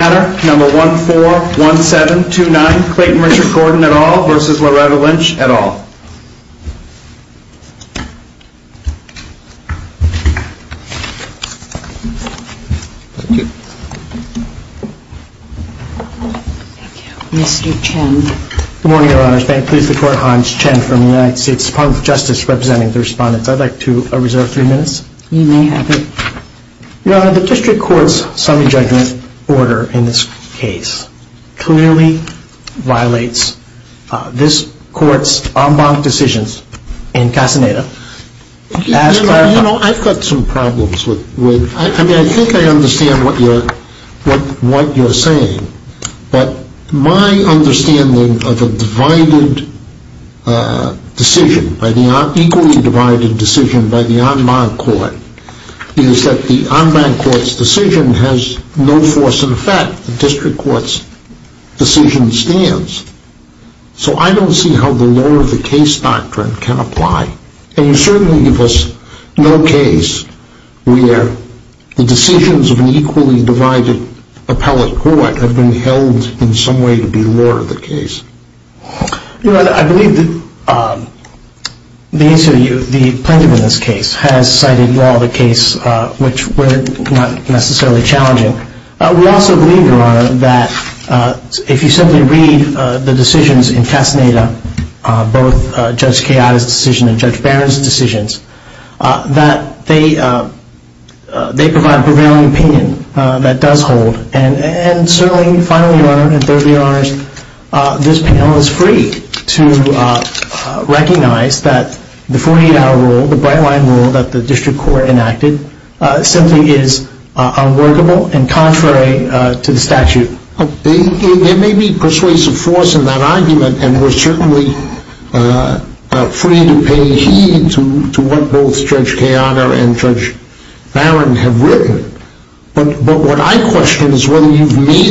number 141729 Clayton Richard Gordon et al. versus Loretta Lynch et al. Thank you. Mr. Chen. Good morning, Your Honors. May it please the Court, Hans Chen from the United States Department of Justice representing the respondents. I'd like to reserve three minutes. You may have it. Your Honor, the District Court's summary judgment order in this case clearly violates this Court's en banc decisions in Casaneda. You know, I've got some problems with, I mean, I think I understand what you're saying, but my understanding of a divided decision, an equally divided decision by the en banc Court is that the en banc Court's decision has no force in effect. The District Court's decision stands. So I don't see how the law of the case doctrine can apply. And you certainly give us no case where the decisions of an equally divided appellate court have been held in some way to be the law of the case. You know, I believe the plaintiff in this case has cited law of the case, which were not necessarily challenging. We also believe, Your Honor, that if you simply read the decisions in Casaneda, both Judge Keada's decision and Judge Barron's decisions, that they provide prevailing opinion that does not hold. And certainly, finally, Your Honor, and thirdly, Your Honors, this panel is free to recognize that the 48-hour rule, the bright-line rule that the District Court enacted, simply is unworkable and contrary to the statute. There may be persuasive force in that argument, and we're certainly free to pay heed to what both made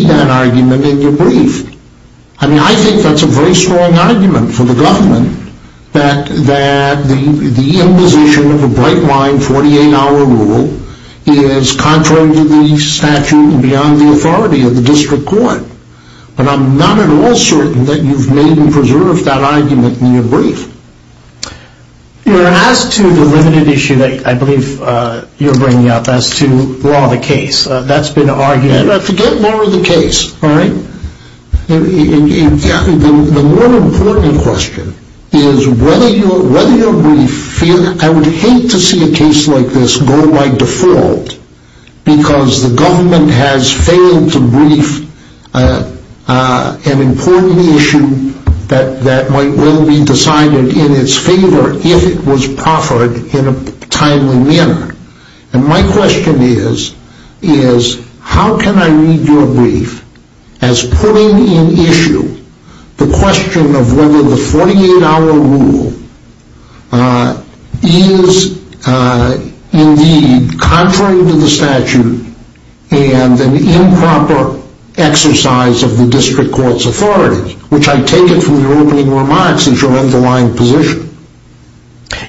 that argument in your brief. I mean, I think that's a very strong argument for the government that the imposition of a bright-line 48-hour rule is contrary to the statute and beyond the authority of the District Court. But I'm not at all certain that you've made and preserved that argument in your brief. Your Honor, as to the limited issue that I believe you're bringing up as to law of the case, that's been argued. Forget law of the case, all right? The more important question is whether your brief, I would hate to see a case like this go by default because the government has failed to brief an important issue that might well be decided in its favor if it was proffered in a timely manner. And my question is, is how can I read your brief as putting in issue the question of whether the 48-hour rule is indeed contrary to the statute and an improper exercise of the District Court's authority, which I take it from your opening remarks is your underlying position.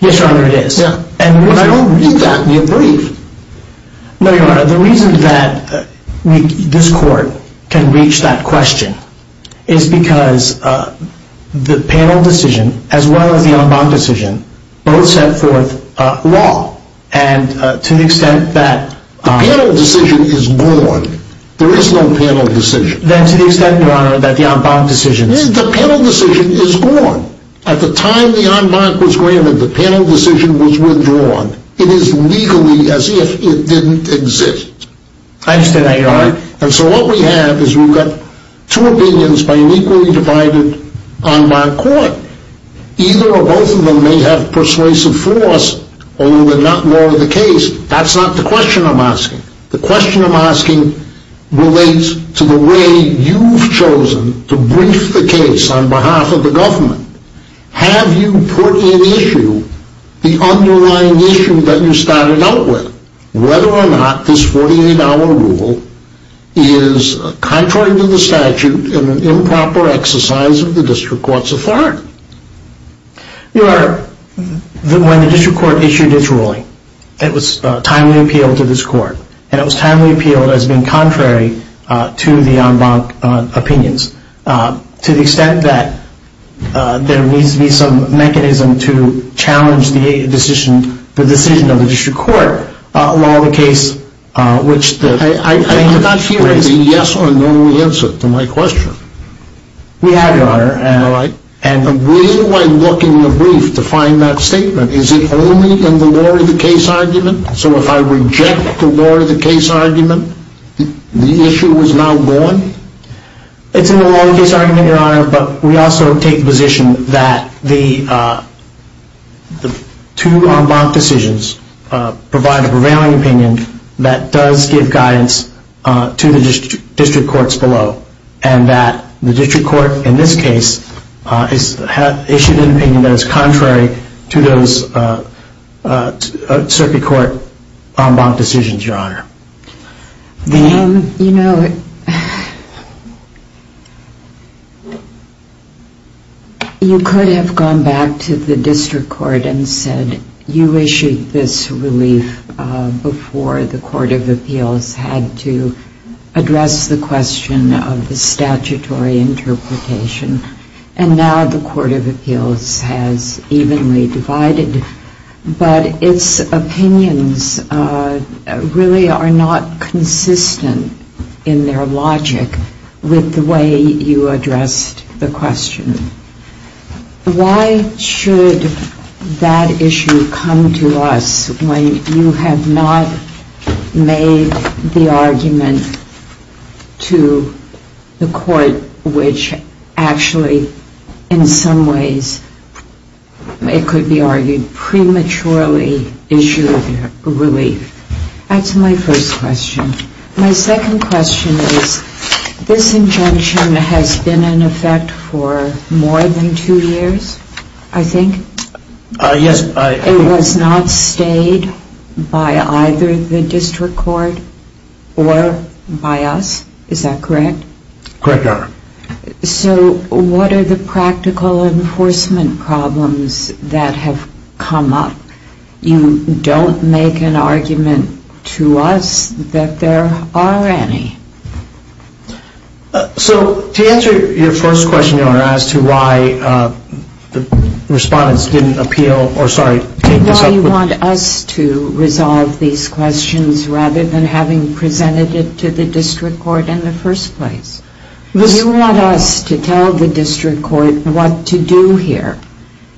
Yes, Your Honor, it is. But I don't read that in your brief. No, Your Honor. The reason that this Court can reach that question is because the panel decision as well as the en banc decision both set forth law and to the extent that... The panel decision is born. There is no panel decision. Then to the extent, Your Honor, that the en banc decision... The panel decision is born. At the time the en banc was granted, the panel decision was withdrawn. It is legally as if it didn't exist. I understand that, Your Honor. And so what we have is we've got two opinions by an equally divided en banc court. Either or both of them may have persuasive force, although they're not law of the case. That's not the question I'm asking. The question I'm asking relates to the way you've chosen to brief the case on behalf of the government. Have you put in issue the underlying issue that you started out with, whether or not this 48-hour rule is contrary to the statute and an improper exercise of the district court's authority? Your Honor, when the district court issued its ruling, it was timely appealed to this court. And it was timely appealed as being contrary to the en banc opinions to the extent that there needs to be some mechanism to challenge the decision of the district court, law of the case, which the en banc hearings... I'm not sure there's a yes or no answer to my question. We have, Your Honor. Am I right? And will I look in the brief to find that statement? Is it only in the law of the case argument? So if I reject the law of the case argument, the issue is now gone? It's in the law of the case argument, Your Honor, but we also take the position that the two en banc decisions provide a prevailing opinion that does give guidance to the district courts below and that the district court in this case issued an opinion that is contrary to those circuit court en banc decisions, Your Honor. Ma'am, you know, you could have gone back to the district court and said you issued this relief before the court of appeals had to address the question of the statutory interpretation. And now the court of appeals has evenly divided. But its opinions really are not consistent in their logic with the way you addressed the question. Why should that issue come to us when you have not made the argument to the court, which actually in some ways it could be argued prematurely issued a relief? That's my first question. My second question is this injunction has been in effect for more than two years, I think? Yes. It was not stayed by either the district court or by us. Is that correct? Correct, Your Honor. So what are the practical enforcement problems that have come up? You don't make an argument to us that there are any. So to answer your first question, Your Honor, as to why the respondents didn't appeal, or sorry, take this up with you. You want us to resolve these questions rather than having presented it to the district court in the first place. You want us to tell the district court what to do here.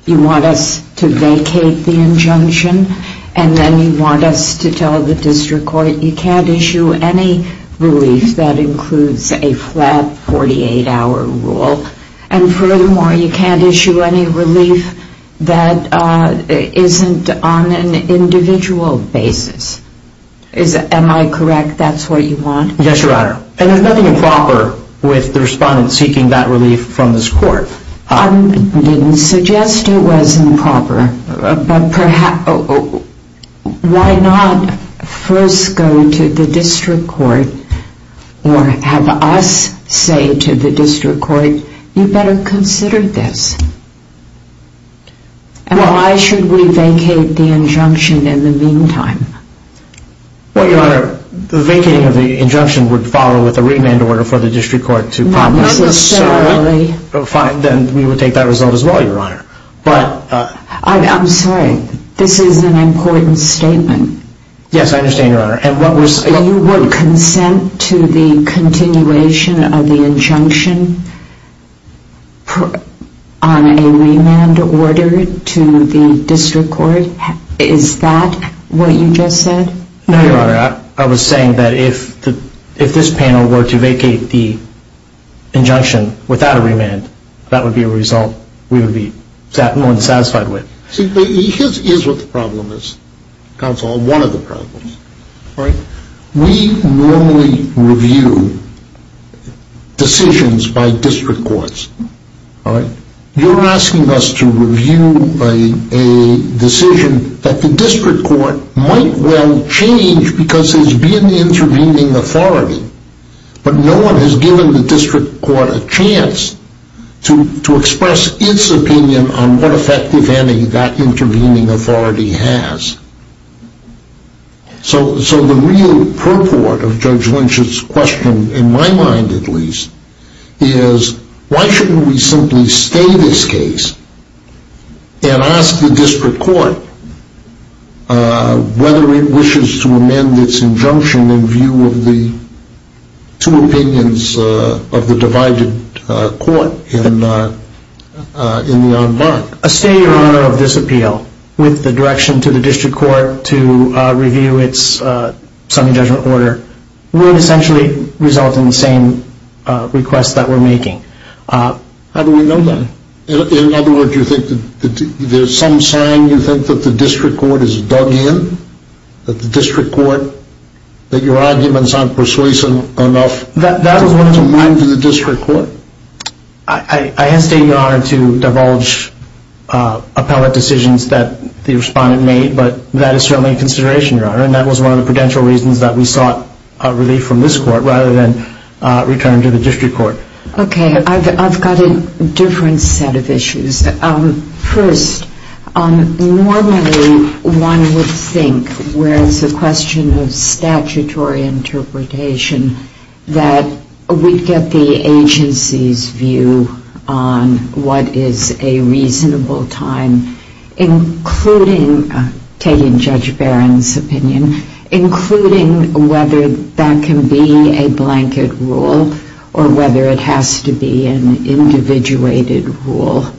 You want us to vacate the injunction, and then you want us to tell the district court you can't issue any relief that includes a flat 48-hour rule. And furthermore, you can't issue any relief that isn't on an individual basis. Am I correct? That's what you want? Yes, Your Honor. And there's nothing improper with the respondents seeking that relief from this court. I didn't suggest it was improper. Why not first go to the district court or have us say to the district court, you'd better consider this? And why should we vacate the injunction in the meantime? Well, Your Honor, the vacating of the injunction would follow with a remand order for the district court to promise. Not necessarily. Fine, then we will take that result as well, Your Honor. I'm sorry. This is an important statement. Yes, I understand, Your Honor. You would consent to the continuation of the injunction on a remand order to the district court? Is that what you just said? No, Your Honor. I was saying that if this panel were to vacate the injunction without a remand, that would be a result we would be more than satisfied with. See, here's what the problem is, counsel, one of the problems. We normally review decisions by district courts. You're asking us to review a decision that the district court might well change because there's been intervening authority, but no one has given the district court a chance to express its opinion on what effect, if any, that intervening authority has. So the real purport of Judge Lynch's question, in my mind at least, is why shouldn't we simply stay this case and ask the district court whether it wishes to amend its injunction in view of the two opinions of the divided court in the en banc? A stay, Your Honor, of this appeal with the direction to the district court to review its semi-judgment order would essentially result in the same request that we're making. How do we know that? In other words, you think that there's some sign you think that the district court is dug in, that the district court, that your arguments aren't persuasive enough to move to the district court? I hesitate, Your Honor, to divulge appellate decisions that the respondent made, but that is certainly a consideration, Your Honor, and that was one of the prudential reasons that we sought relief from this court rather than return to the district court. Okay, I've got a different set of issues. First, normally one would think where it's a question of statutory interpretation that we'd get the agency's view on what is a reasonable time, including taking Judge Barron's opinion, including whether that can be a blanket rule or whether it has to be an individuated rule.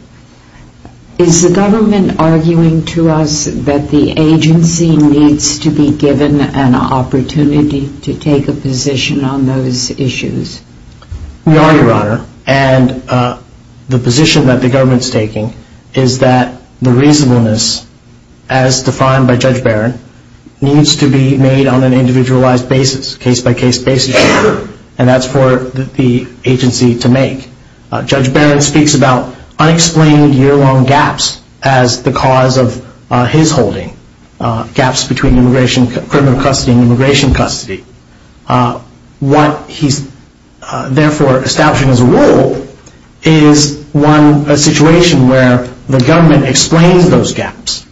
Is the government arguing to us that the agency needs to be given an opportunity to take a position on those issues? We are, Your Honor, and the position that the government's taking is that the reasonableness, as defined by Judge Barron, needs to be made on an individualized basis, case-by-case basis, and that's for the agency to make. Judge Barron speaks about unexplained year-long gaps as the cause of his holding, gaps between criminal custody and immigration custody. What he's therefore establishing as a rule is a situation where the government explains those gaps,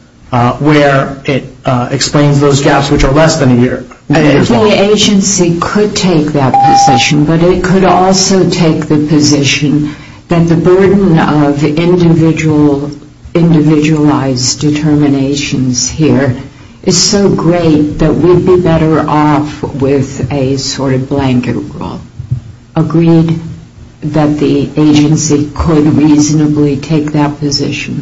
where it explains those gaps which are less than a year. The agency could take that position, but it could also take the position that the burden of individualized determinations here is so great that we'd be better off with a sort of blanket rule. Agreed that the agency could reasonably take that position?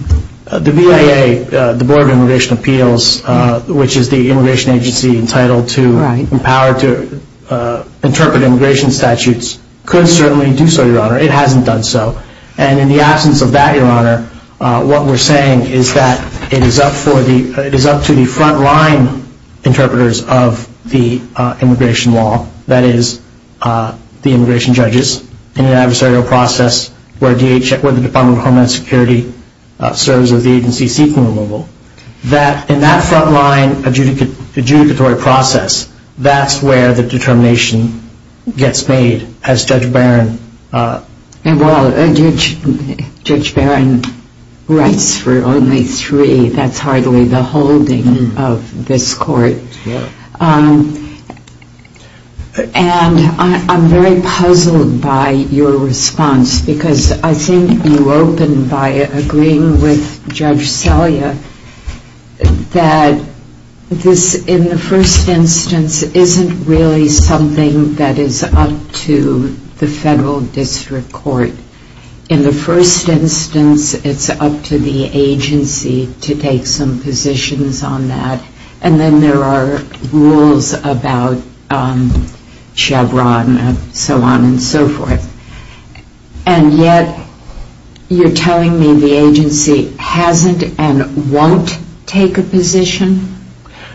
The BIA, the Board of Immigration Appeals, which is the immigration agency entitled to the power to interpret immigration statutes, could certainly do so, Your Honor. It hasn't done so, and in the absence of that, Your Honor, what we're saying is that it is up to the front-line interpreters of the immigration law, that is, the immigration judges in an adversarial process where the Department of Homeland Security serves as the agency seeking removal, that in that front-line adjudicatory process, that's where the determination gets made, as Judge Barron... Well, Judge Barron writes for only three. That's hardly the holding of this Court. And I'm very puzzled by your response, because I think you opened by agreeing with Judge Selya that this, in the first instance, isn't really something that is up to the federal district court. In the first instance, it's up to the agency to take some positions on that, and then there are rules about Chevron and so on and so forth. And yet, you're telling me the agency hasn't and won't take a position?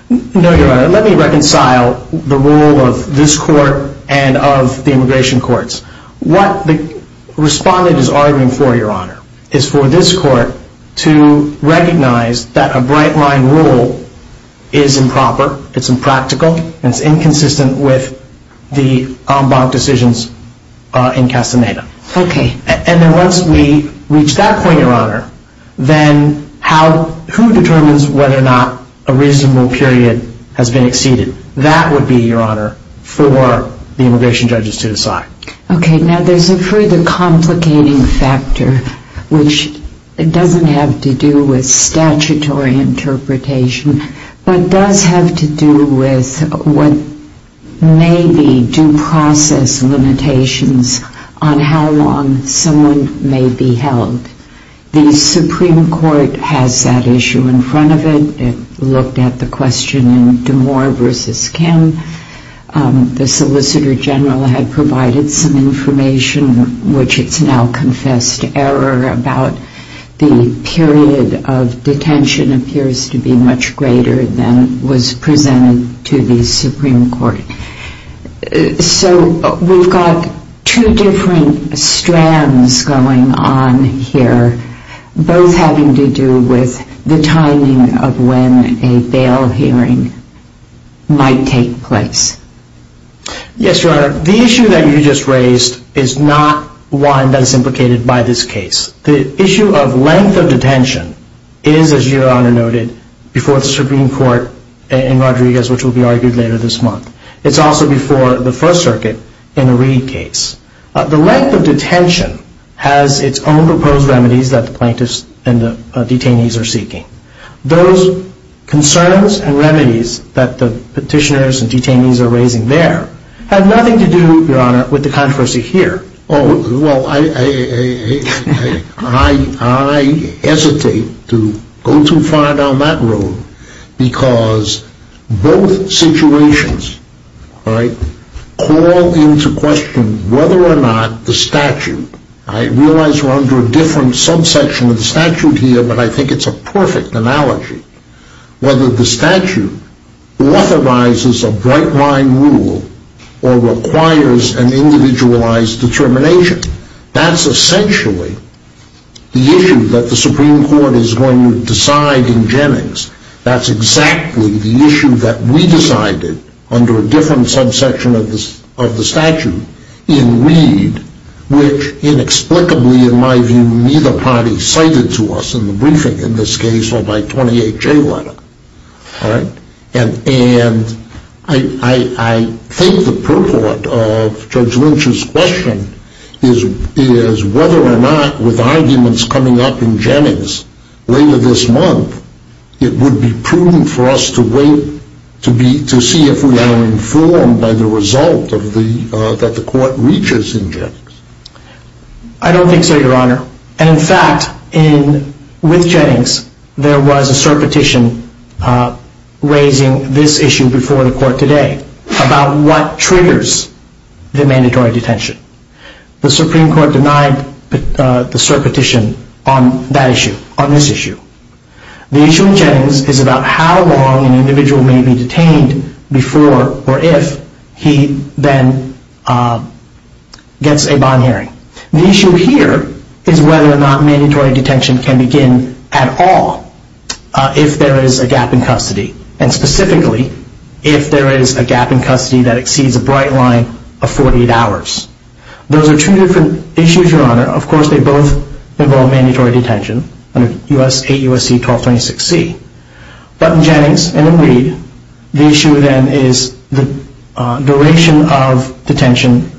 No, Your Honor. Let me reconcile the role of this Court and of the immigration courts. What the respondent is arguing for, Your Honor, is for this Court to recognize that a bright-line rule is improper, it's impractical, and it's inconsistent with the en banc decisions in Castaneda. And then once we reach that point, Your Honor, then who determines whether or not a reasonable period has been exceeded? That would be, Your Honor, for the immigration judges to decide. Okay, now there's a further complicating factor, which doesn't have to do with statutory interpretation, but does have to do with what may be due process limitations on how long someone may be held. The Supreme Court has that issue in front of it. It looked at the question in Demore v. Kim. The Solicitor General had provided some information, which it's now confessed error about the period of detention appears to be much greater than was presented to the Supreme Court. So we've got two different strands going on here, both having to do with the timing of when a bail hearing might take place. Yes, Your Honor. The issue that you just raised is not one that is implicated by this case. The issue of length of detention is, as Your Honor noted, before the Supreme Court in Rodriguez, which will be argued later this month. It's also before the First Circuit in the Reed case. The length of detention has its own proposed remedies that the plaintiffs and the detainees are seeking. Those concerns and remedies that the petitioners and detainees are raising there have nothing to do, Your Honor, with the controversy here. Oh, well, I hesitate to go too far down that road because both situations call into question whether or not the statute, I realize we're under a different subsection of the statute here, but I think it's a perfect analogy, whether the statute authorizes a bright line rule or requires an individualized determination. That's essentially the issue that the Supreme Court is going to decide in Jennings. That's exactly the issue that we decided under a different subsection of the statute in Reed, which inexplicably, in my view, neither party cited to us in the briefing in this case or by 28J letter. And I think the purport of Judge Lynch's question is whether or not, with arguments coming up in Jennings later this month, it would be prudent for us to wait to see if we are informed by the result that the court reaches in Jennings. I don't think so, Your Honor. And in fact, with Jennings, there was a cert petition raising this issue before the court today about what triggers the mandatory detention. The Supreme Court denied the cert petition on that issue, on this issue. The issue in Jennings is about how long an individual may be detained before or if he then gets a bond hearing. The issue here is whether or not mandatory detention can begin at all if there is a gap in custody. And specifically, if there is a gap in custody that exceeds a bright line of 48 hours. Those are two different issues, Your Honor. Of course, they both involve mandatory detention under 8 U.S.C. 1226C. But in Jennings and in Reed, the issue then is the duration of detention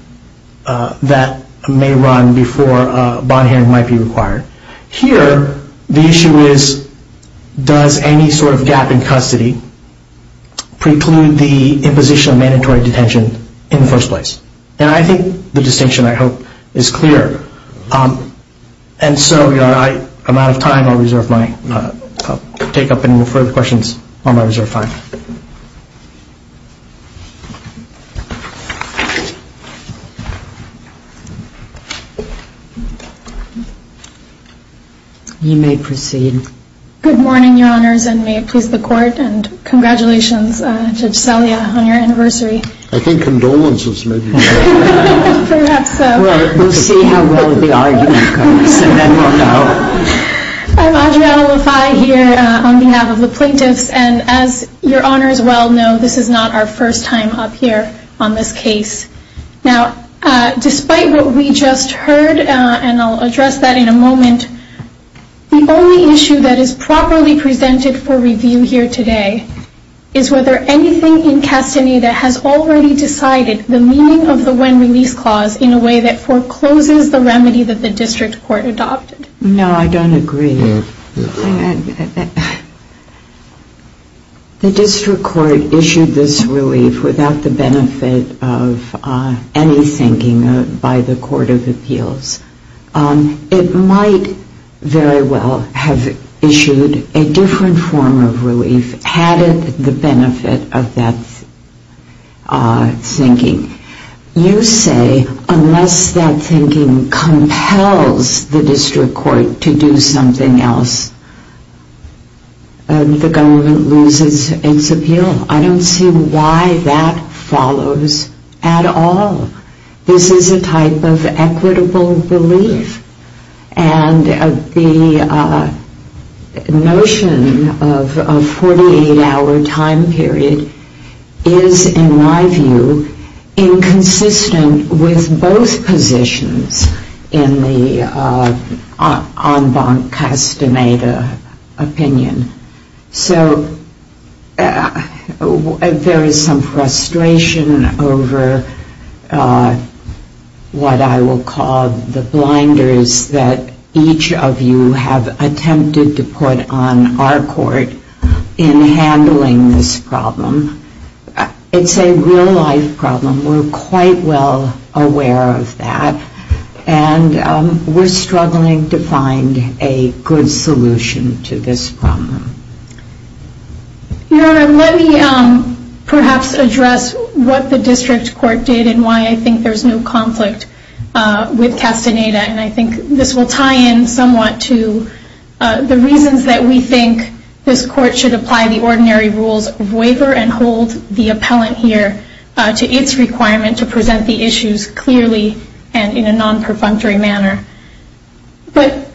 that may run before a bond hearing might be required. Here, the issue is, does any sort of gap in custody preclude the imposition of mandatory detention in the first place? And I think the distinction, I hope, is clear. And so, Your Honor, I'm out of time. I'll take up any further questions while I reserve time. You may proceed. Good morning, Your Honors, and may it please the Court. And congratulations, Judge Salia, on your anniversary. I think condolences may be better. Perhaps so. We'll see how well the argument goes, and then we'll know. I'm Adriana Lafai here on behalf of the plaintiffs. And as Your Honors well know, this is not our first time up here on this case. Now, despite what we just heard, and I'll address that in a moment, the only issue that is properly presented for review here today is whether anything in custody that has already decided the meaning of the when-release clause in a way that forecloses the remedy that the district court adopted. No, I don't agree. The district court issued this relief without the benefit of any thinking by the Court of Appeals. It might very well have issued a different form of relief had it the benefit of that thinking. You say unless that thinking compels the district court to do something else, the government loses its appeal. I don't see why that follows at all. This is a type of equitable belief, and the notion of a 48-hour time period is, in my view, inconsistent with both positions in the en banc castemata opinion. So there is some frustration over what I will call the blinders that each of you have attempted to put on our court in handling this problem. It's a real-life problem. We're quite well aware of that, and we're struggling to find a good solution to this problem. Your Honor, let me perhaps address what the district court did and why I think there's no conflict with castemata, and I think this will tie in somewhat to the reasons that we think this court should apply the ordinary rules of waiver and hold the appellant here to its request. I don't think there's a requirement to present the issues clearly and in a non-perfunctory manner. But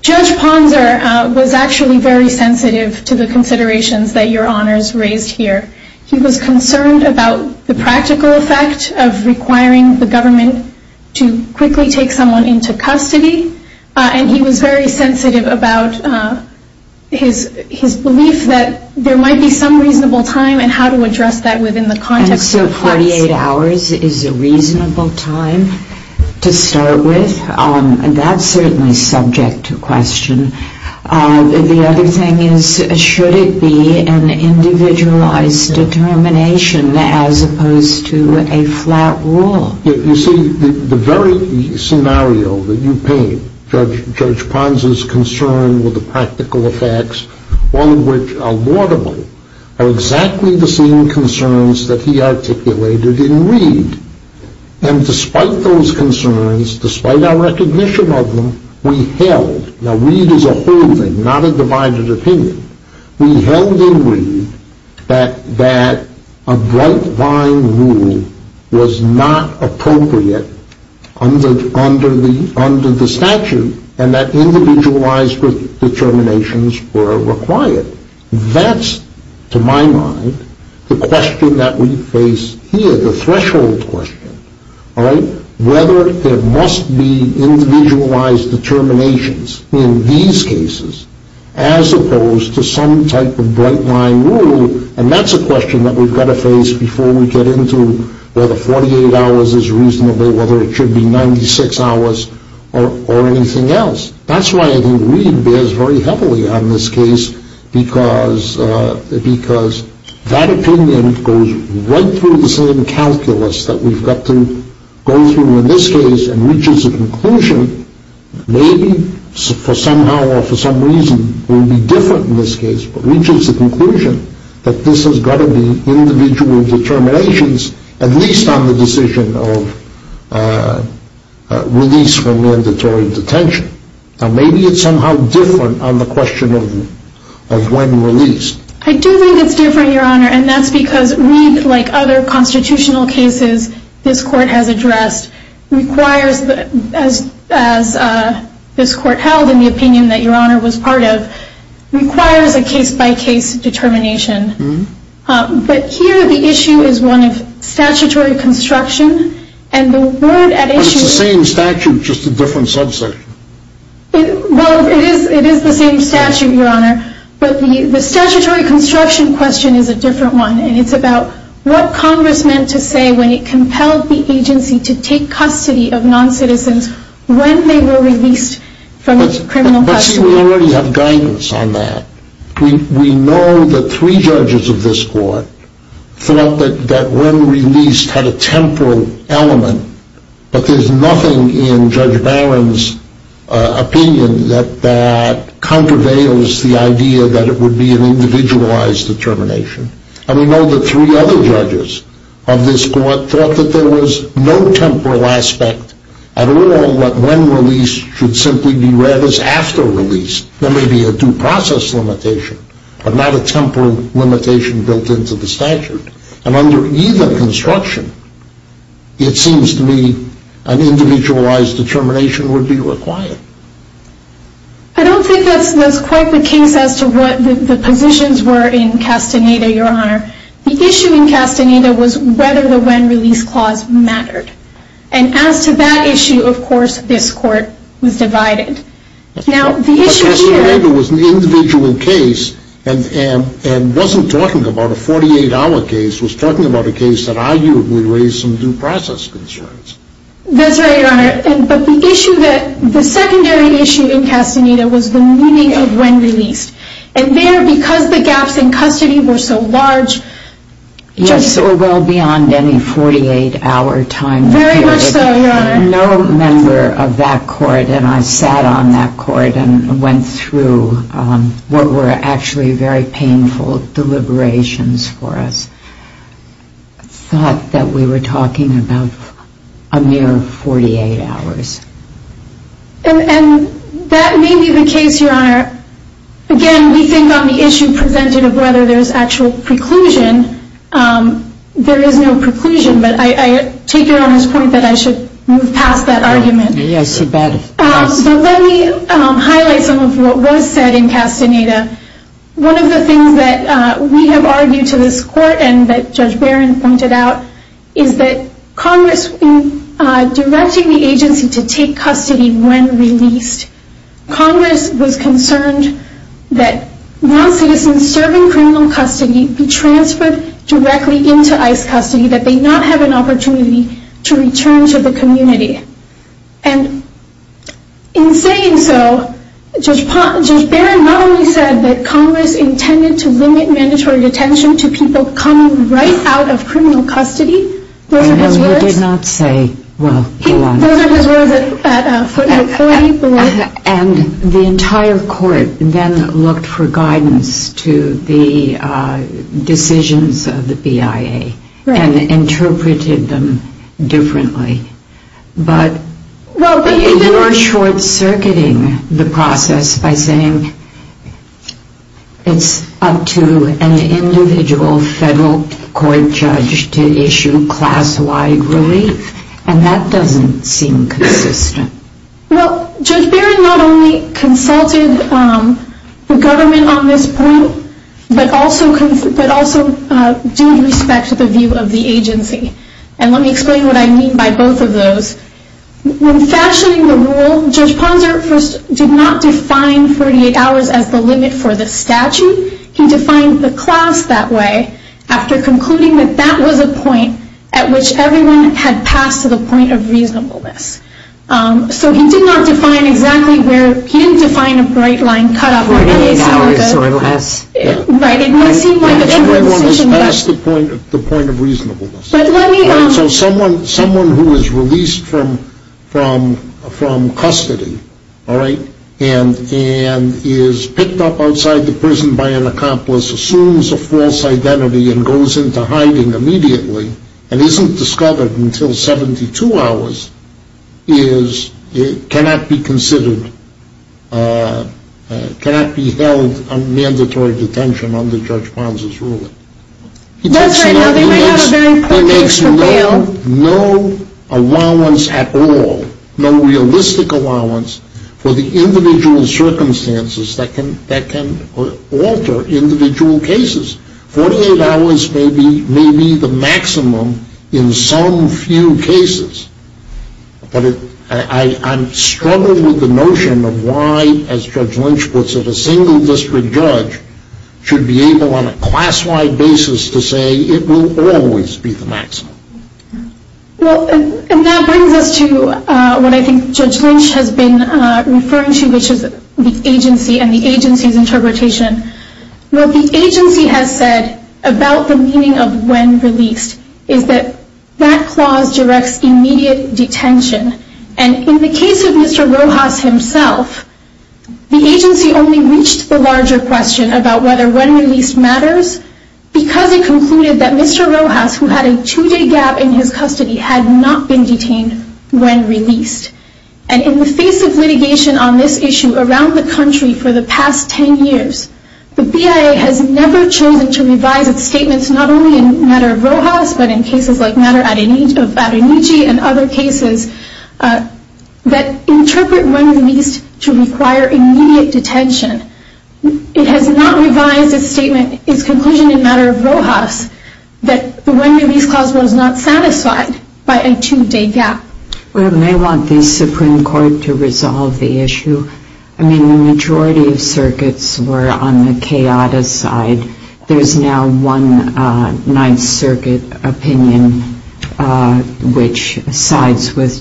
Judge Ponzer was actually very sensitive to the considerations that Your Honor has raised here. He was concerned about the practical effect of requiring the government to quickly take someone into custody, and he was very sensitive about his belief that there might be some reasonable time and how to address that within the context of the facts. And I think that the fact that 48 hours is a reasonable time to start with, that's certainly subject to question. The other thing is, should it be an individualized determination as opposed to a flat rule? You see, the very scenario that you paint, Judge Ponzer's concern with the practical effects, all of which are laudable, are exactly the same concerns that he articulated in Reed. And despite those concerns, despite our recognition of them, we held, now Reed is a holding, not a divided opinion, we held in Reed that a bright line rule was not appropriate under the statute, and that individualized determinations were required. That's, to my mind, the question that we face here, the threshold question. Whether there must be individualized determinations in these cases as opposed to some type of bright line rule, and that's a question that we've got to face before we get into whether 48 hours is reasonable, whether it should be 96 hours, or anything else. That's why I think Reed bears very heavily on this case, because that opinion goes right through the same calculus that we've got to go through in this case, and reaches a conclusion, maybe for somehow or for some reason will be different in this case, but reaches the conclusion that this has got to be individual determinations, at least on the decision of release for mandatory detention. Now maybe it's somehow different on the question of when released. I do think it's different, Your Honor, and that's because Reed, like other constitutional cases this court has addressed, requires, as this court held in the opinion that Your Honor was part of, requires a case-by-case determination. But here the issue is one of statutory construction, and the word at issue... But it's the same statute, just a different subsection. Well, it is the same statute, Your Honor, but the statutory construction question is a different one, and it's about what Congress meant to say when it compelled the agency to take custody of non-citizens when they were released from criminal custody. I see we already have guidance on that. We know that three judges of this court thought that when released had a temporal element, but there's nothing in Judge Barron's opinion that contraveils the idea that it would be an individualized determination. And we know that three other judges of this court thought that there was no temporal aspect at all, and we know that when released should simply be read as after release. There may be a due process limitation, but not a temporal limitation built into the statute. And under either construction, it seems to me an individualized determination would be required. I don't think that's quite the case as to what the positions were in Castaneda, Your Honor. The issue in Castaneda was whether the when-release clause mattered. And as to that issue, of course, this court was divided. But Castaneda was an individual case and wasn't talking about a 48-hour case. It was talking about a case that arguably raised some due process concerns. That's right, Your Honor. But the secondary issue in Castaneda was the meaning of when-release. And there, because the gaps in custody were so large, Yes, or well beyond any 48-hour time period. Very much so, Your Honor. No member of that court, and I sat on that court and went through what were actually very painful deliberations for us, thought that we were talking about a mere 48 hours. And that may be the case, Your Honor. Again, we think on the issue presented of whether there's actual preclusion, there is no preclusion. But I take Your Honor's point that I should move past that argument. Yes, you better. So let me highlight some of what was said in Castaneda. One of the things that we have argued to this court and that Judge Barron pointed out is that Congress, in directing the agency to take custody when released, Congress was concerned that non-citizens serving criminal custody be transferred directly into ICE custody, that they not have an opportunity to return to the community. And in saying so, Judge Barron not only said that Congress intended to limit mandatory detention to people coming right out of criminal custody. Those are his words. No, he did not say, well, go on. Those are his words at footnote 40. And the entire court then looked for guidance to the decisions of the BIA and interpreted them differently. But you're short-circuiting the process by saying it's up to an individual federal court judge to issue class-wide relief. And that doesn't seem consistent. Well, Judge Barron not only consulted the government on this point, but also due respect to the view of the agency. And let me explain what I mean by both of those. When fashioning the rule, Judge Ponser first did not define 48 hours as the limit for the statute. He defined the class that way after concluding that that was a point at which everyone had passed to the point of reasonableness. So he did not define exactly where, he didn't define a bright line cutoff or anything like that. 48 hours or less. Right. Everyone has passed the point of reasonableness. So someone who is released from custody, all right, and is picked up outside the prison by an accomplice, assumes a false identity and goes into hiding immediately, and isn't discovered until 72 hours, cannot be considered, cannot be held on mandatory detention under Judge Ponser's ruling. That's right now. They might have a very quick case for bail. He makes no allowance at all, no realistic allowance, for the individual circumstances that can alter individual cases. 48 hours may be the maximum in some few cases, but I'm struggling with the notion of why, as Judge Lynch puts it, a single district judge should be able on a class-wide basis to say it will always be the maximum. Well, and that brings us to what I think Judge Lynch has been referring to, which is the agency and the agency's interpretation. What the agency has said about the meaning of when released is that that clause directs immediate detention. And in the case of Mr. Rojas himself, the agency only reached the larger question about whether when released matters because it concluded that Mr. Rojas, who had a two-day gap in his custody, had not been detained when released. And in the face of litigation on this issue around the country for the past 10 years, the BIA has never chosen to revise its statements not only in matter of Rojas, but in cases like matter of Adonichi and other cases that interpret when released to require immediate detention. It has not revised its conclusion in matter of Rojas that the when released clause was not satisfied by a two-day gap. Well, they want the Supreme Court to resolve the issue. I mean, the majority of circuits were on the chaotic side. There's now one Ninth Circuit opinion which sides with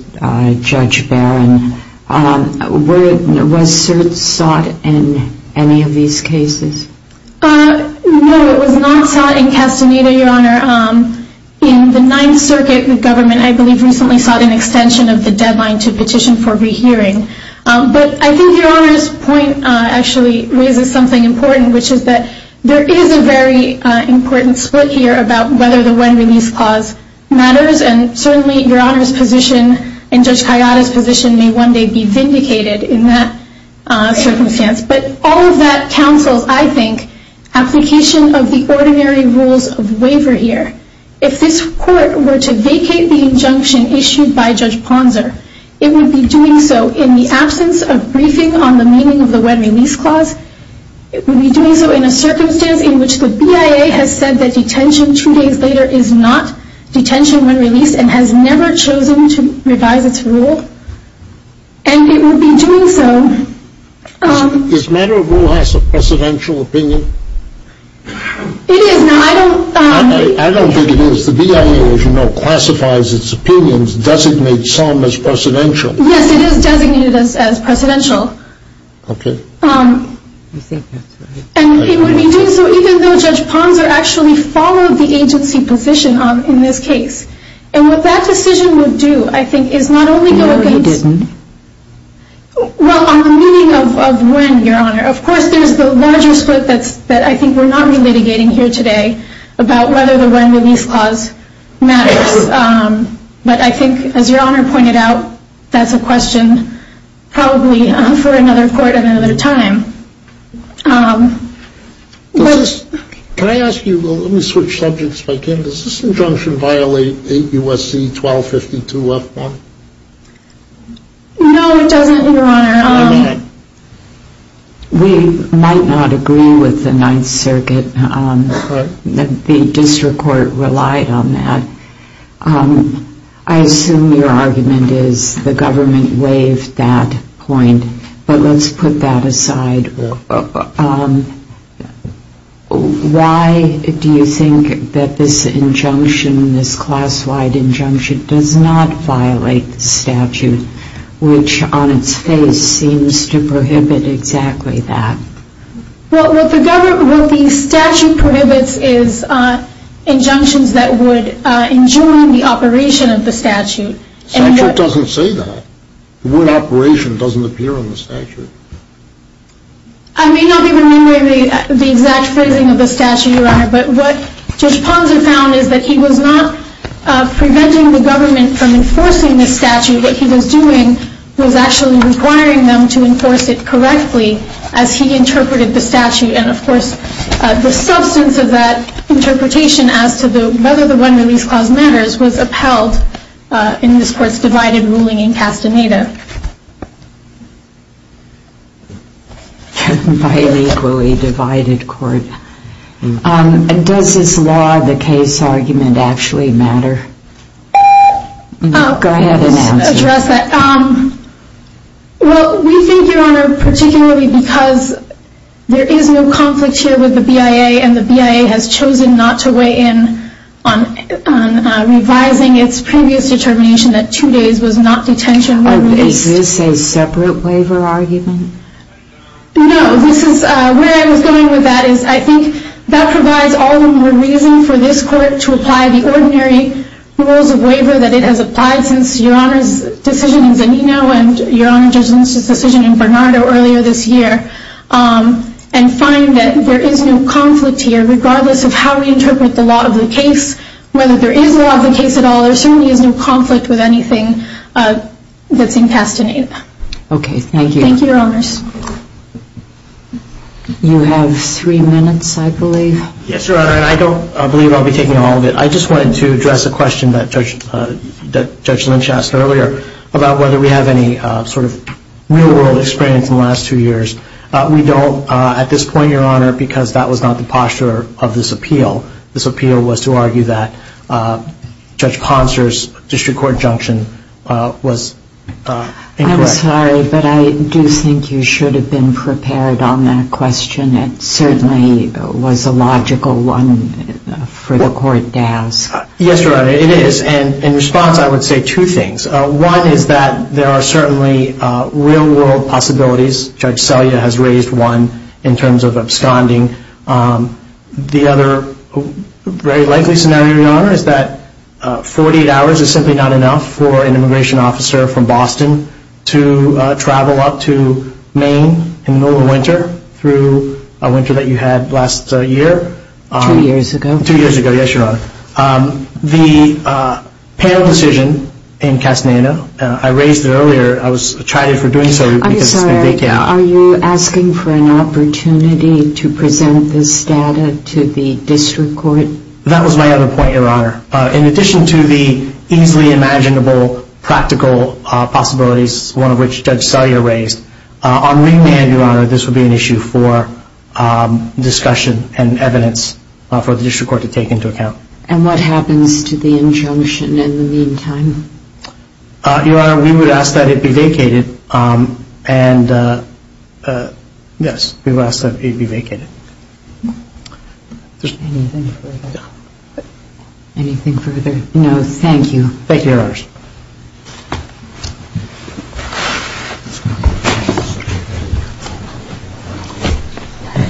Judge Barron. Was cert sought in any of these cases? No, it was not sought in Castaneda, Your Honor. In the Ninth Circuit, the government, I believe, recently sought an extension of the deadline to petition for rehearing. But I think Your Honor's point actually raises something important, which is that there is a very important split here about whether the when released clause matters. And certainly Your Honor's position and Judge Kayada's position may one day be vindicated in that circumstance. But all of that counsels, I think, application of the ordinary rules of waiver here. If this court were to vacate the injunction issued by Judge Ponser, it would be doing so in the absence of briefing on the meaning of the when released clause. It would be doing so in a circumstance in which the BIA has said that detention two days later is not detention when released and has never chosen to revise its rule. And it would be doing so... This matter of rule has a presidential opinion? It is. Now, I don't... I don't think it is. The BIA, as you know, classifies its opinions, designates some as presidential. Yes, it is designated as presidential. Okay. And it would be doing so even though Judge Ponser actually followed the agency position in this case. And what that decision would do, I think, is not only go against... It never did. Well, on the meaning of when, Your Honor. Of course, there's the larger split that I think we're not re-litigating here today about whether the when released clause matters. But I think, as Your Honor pointed out, that's a question probably for another court at another time. Can I ask you... Let me switch subjects again. Does this injunction violate 8 U.S.C. 1252-F1? No, it doesn't, Your Honor. We might not agree with the Ninth Circuit. The district court relied on that. I assume your argument is the government waived that point. But let's put that aside. Why do you think that this injunction, this class-wide injunction, does not violate the statute, which on its face seems to prohibit exactly that? Well, what the statute prohibits is injunctions that would injure the operation of the statute. The statute doesn't say that. The word operation doesn't appear on the statute. I may not be remembering the exact phrasing of the statute, Your Honor, but what Judge Ponson found is that he was not preventing the government from enforcing the statute. What he was doing was actually requiring them to enforce it correctly as he interpreted the statute. And, of course, the substance of that interpretation as to whether the one-release clause matters was upheld in this Court's divided ruling in Castaneda. By an equally divided Court. Does this law, the case argument, actually matter? Go ahead and answer. I'll just address that. Well, we think, Your Honor, particularly because there is no conflict here with the BIA, and the BIA has chosen not to weigh in on revising its previous determination that two days was not detention when released. Is this a separate waiver argument? No. Where I was going with that is I think that provides all the more reason for this Court to apply the ordinary rules of waiver that it has applied since Your Honor's decision in Zanino and Your Honor's decision in Bernardo earlier this year and find that there is no conflict here, regardless of how we interpret the law of the case, whether there is law of the case at all, there certainly is no conflict with anything that's in Castaneda. Okay, thank you. Thank you, Your Honors. You have three minutes, I believe. Yes, Your Honor, and I don't believe I'll be taking all of it. I just wanted to address a question that Judge Lynch asked earlier about whether we have any sort of real-world experience in the last two years. We don't at this point, Your Honor, because that was not the posture of this appeal. This appeal was to argue that Judge Ponser's district court injunction was incorrect. I'm sorry, but I do think you should have been prepared on that question. It certainly was a logical one for the court to ask. Yes, Your Honor, it is, and in response I would say two things. One is that there are certainly real-world possibilities. Judge Selya has raised one in terms of absconding. The other very likely scenario, Your Honor, is that 48 hours is simply not enough for an immigration officer from Boston to travel up to Maine in the middle of winter through a winter that you had last year. Two years ago. Two years ago, yes, Your Honor. The panel decision in Castaneda, I raised it earlier. I tried it for doing so because it's a big deal. I'm sorry. Are you asking for an opportunity to present this data to the district court? That was my other point, Your Honor. In addition to the easily imaginable practical possibilities, one of which Judge Selya raised, on remand, Your Honor, this would be an issue for discussion and evidence for the district court to take into account. And what happens to the injunction in the meantime? Your Honor, we would ask that it be vacated. And, yes, we would ask that it be vacated. Anything further? No. Anything further? No, thank you. Thank you, Your Honor.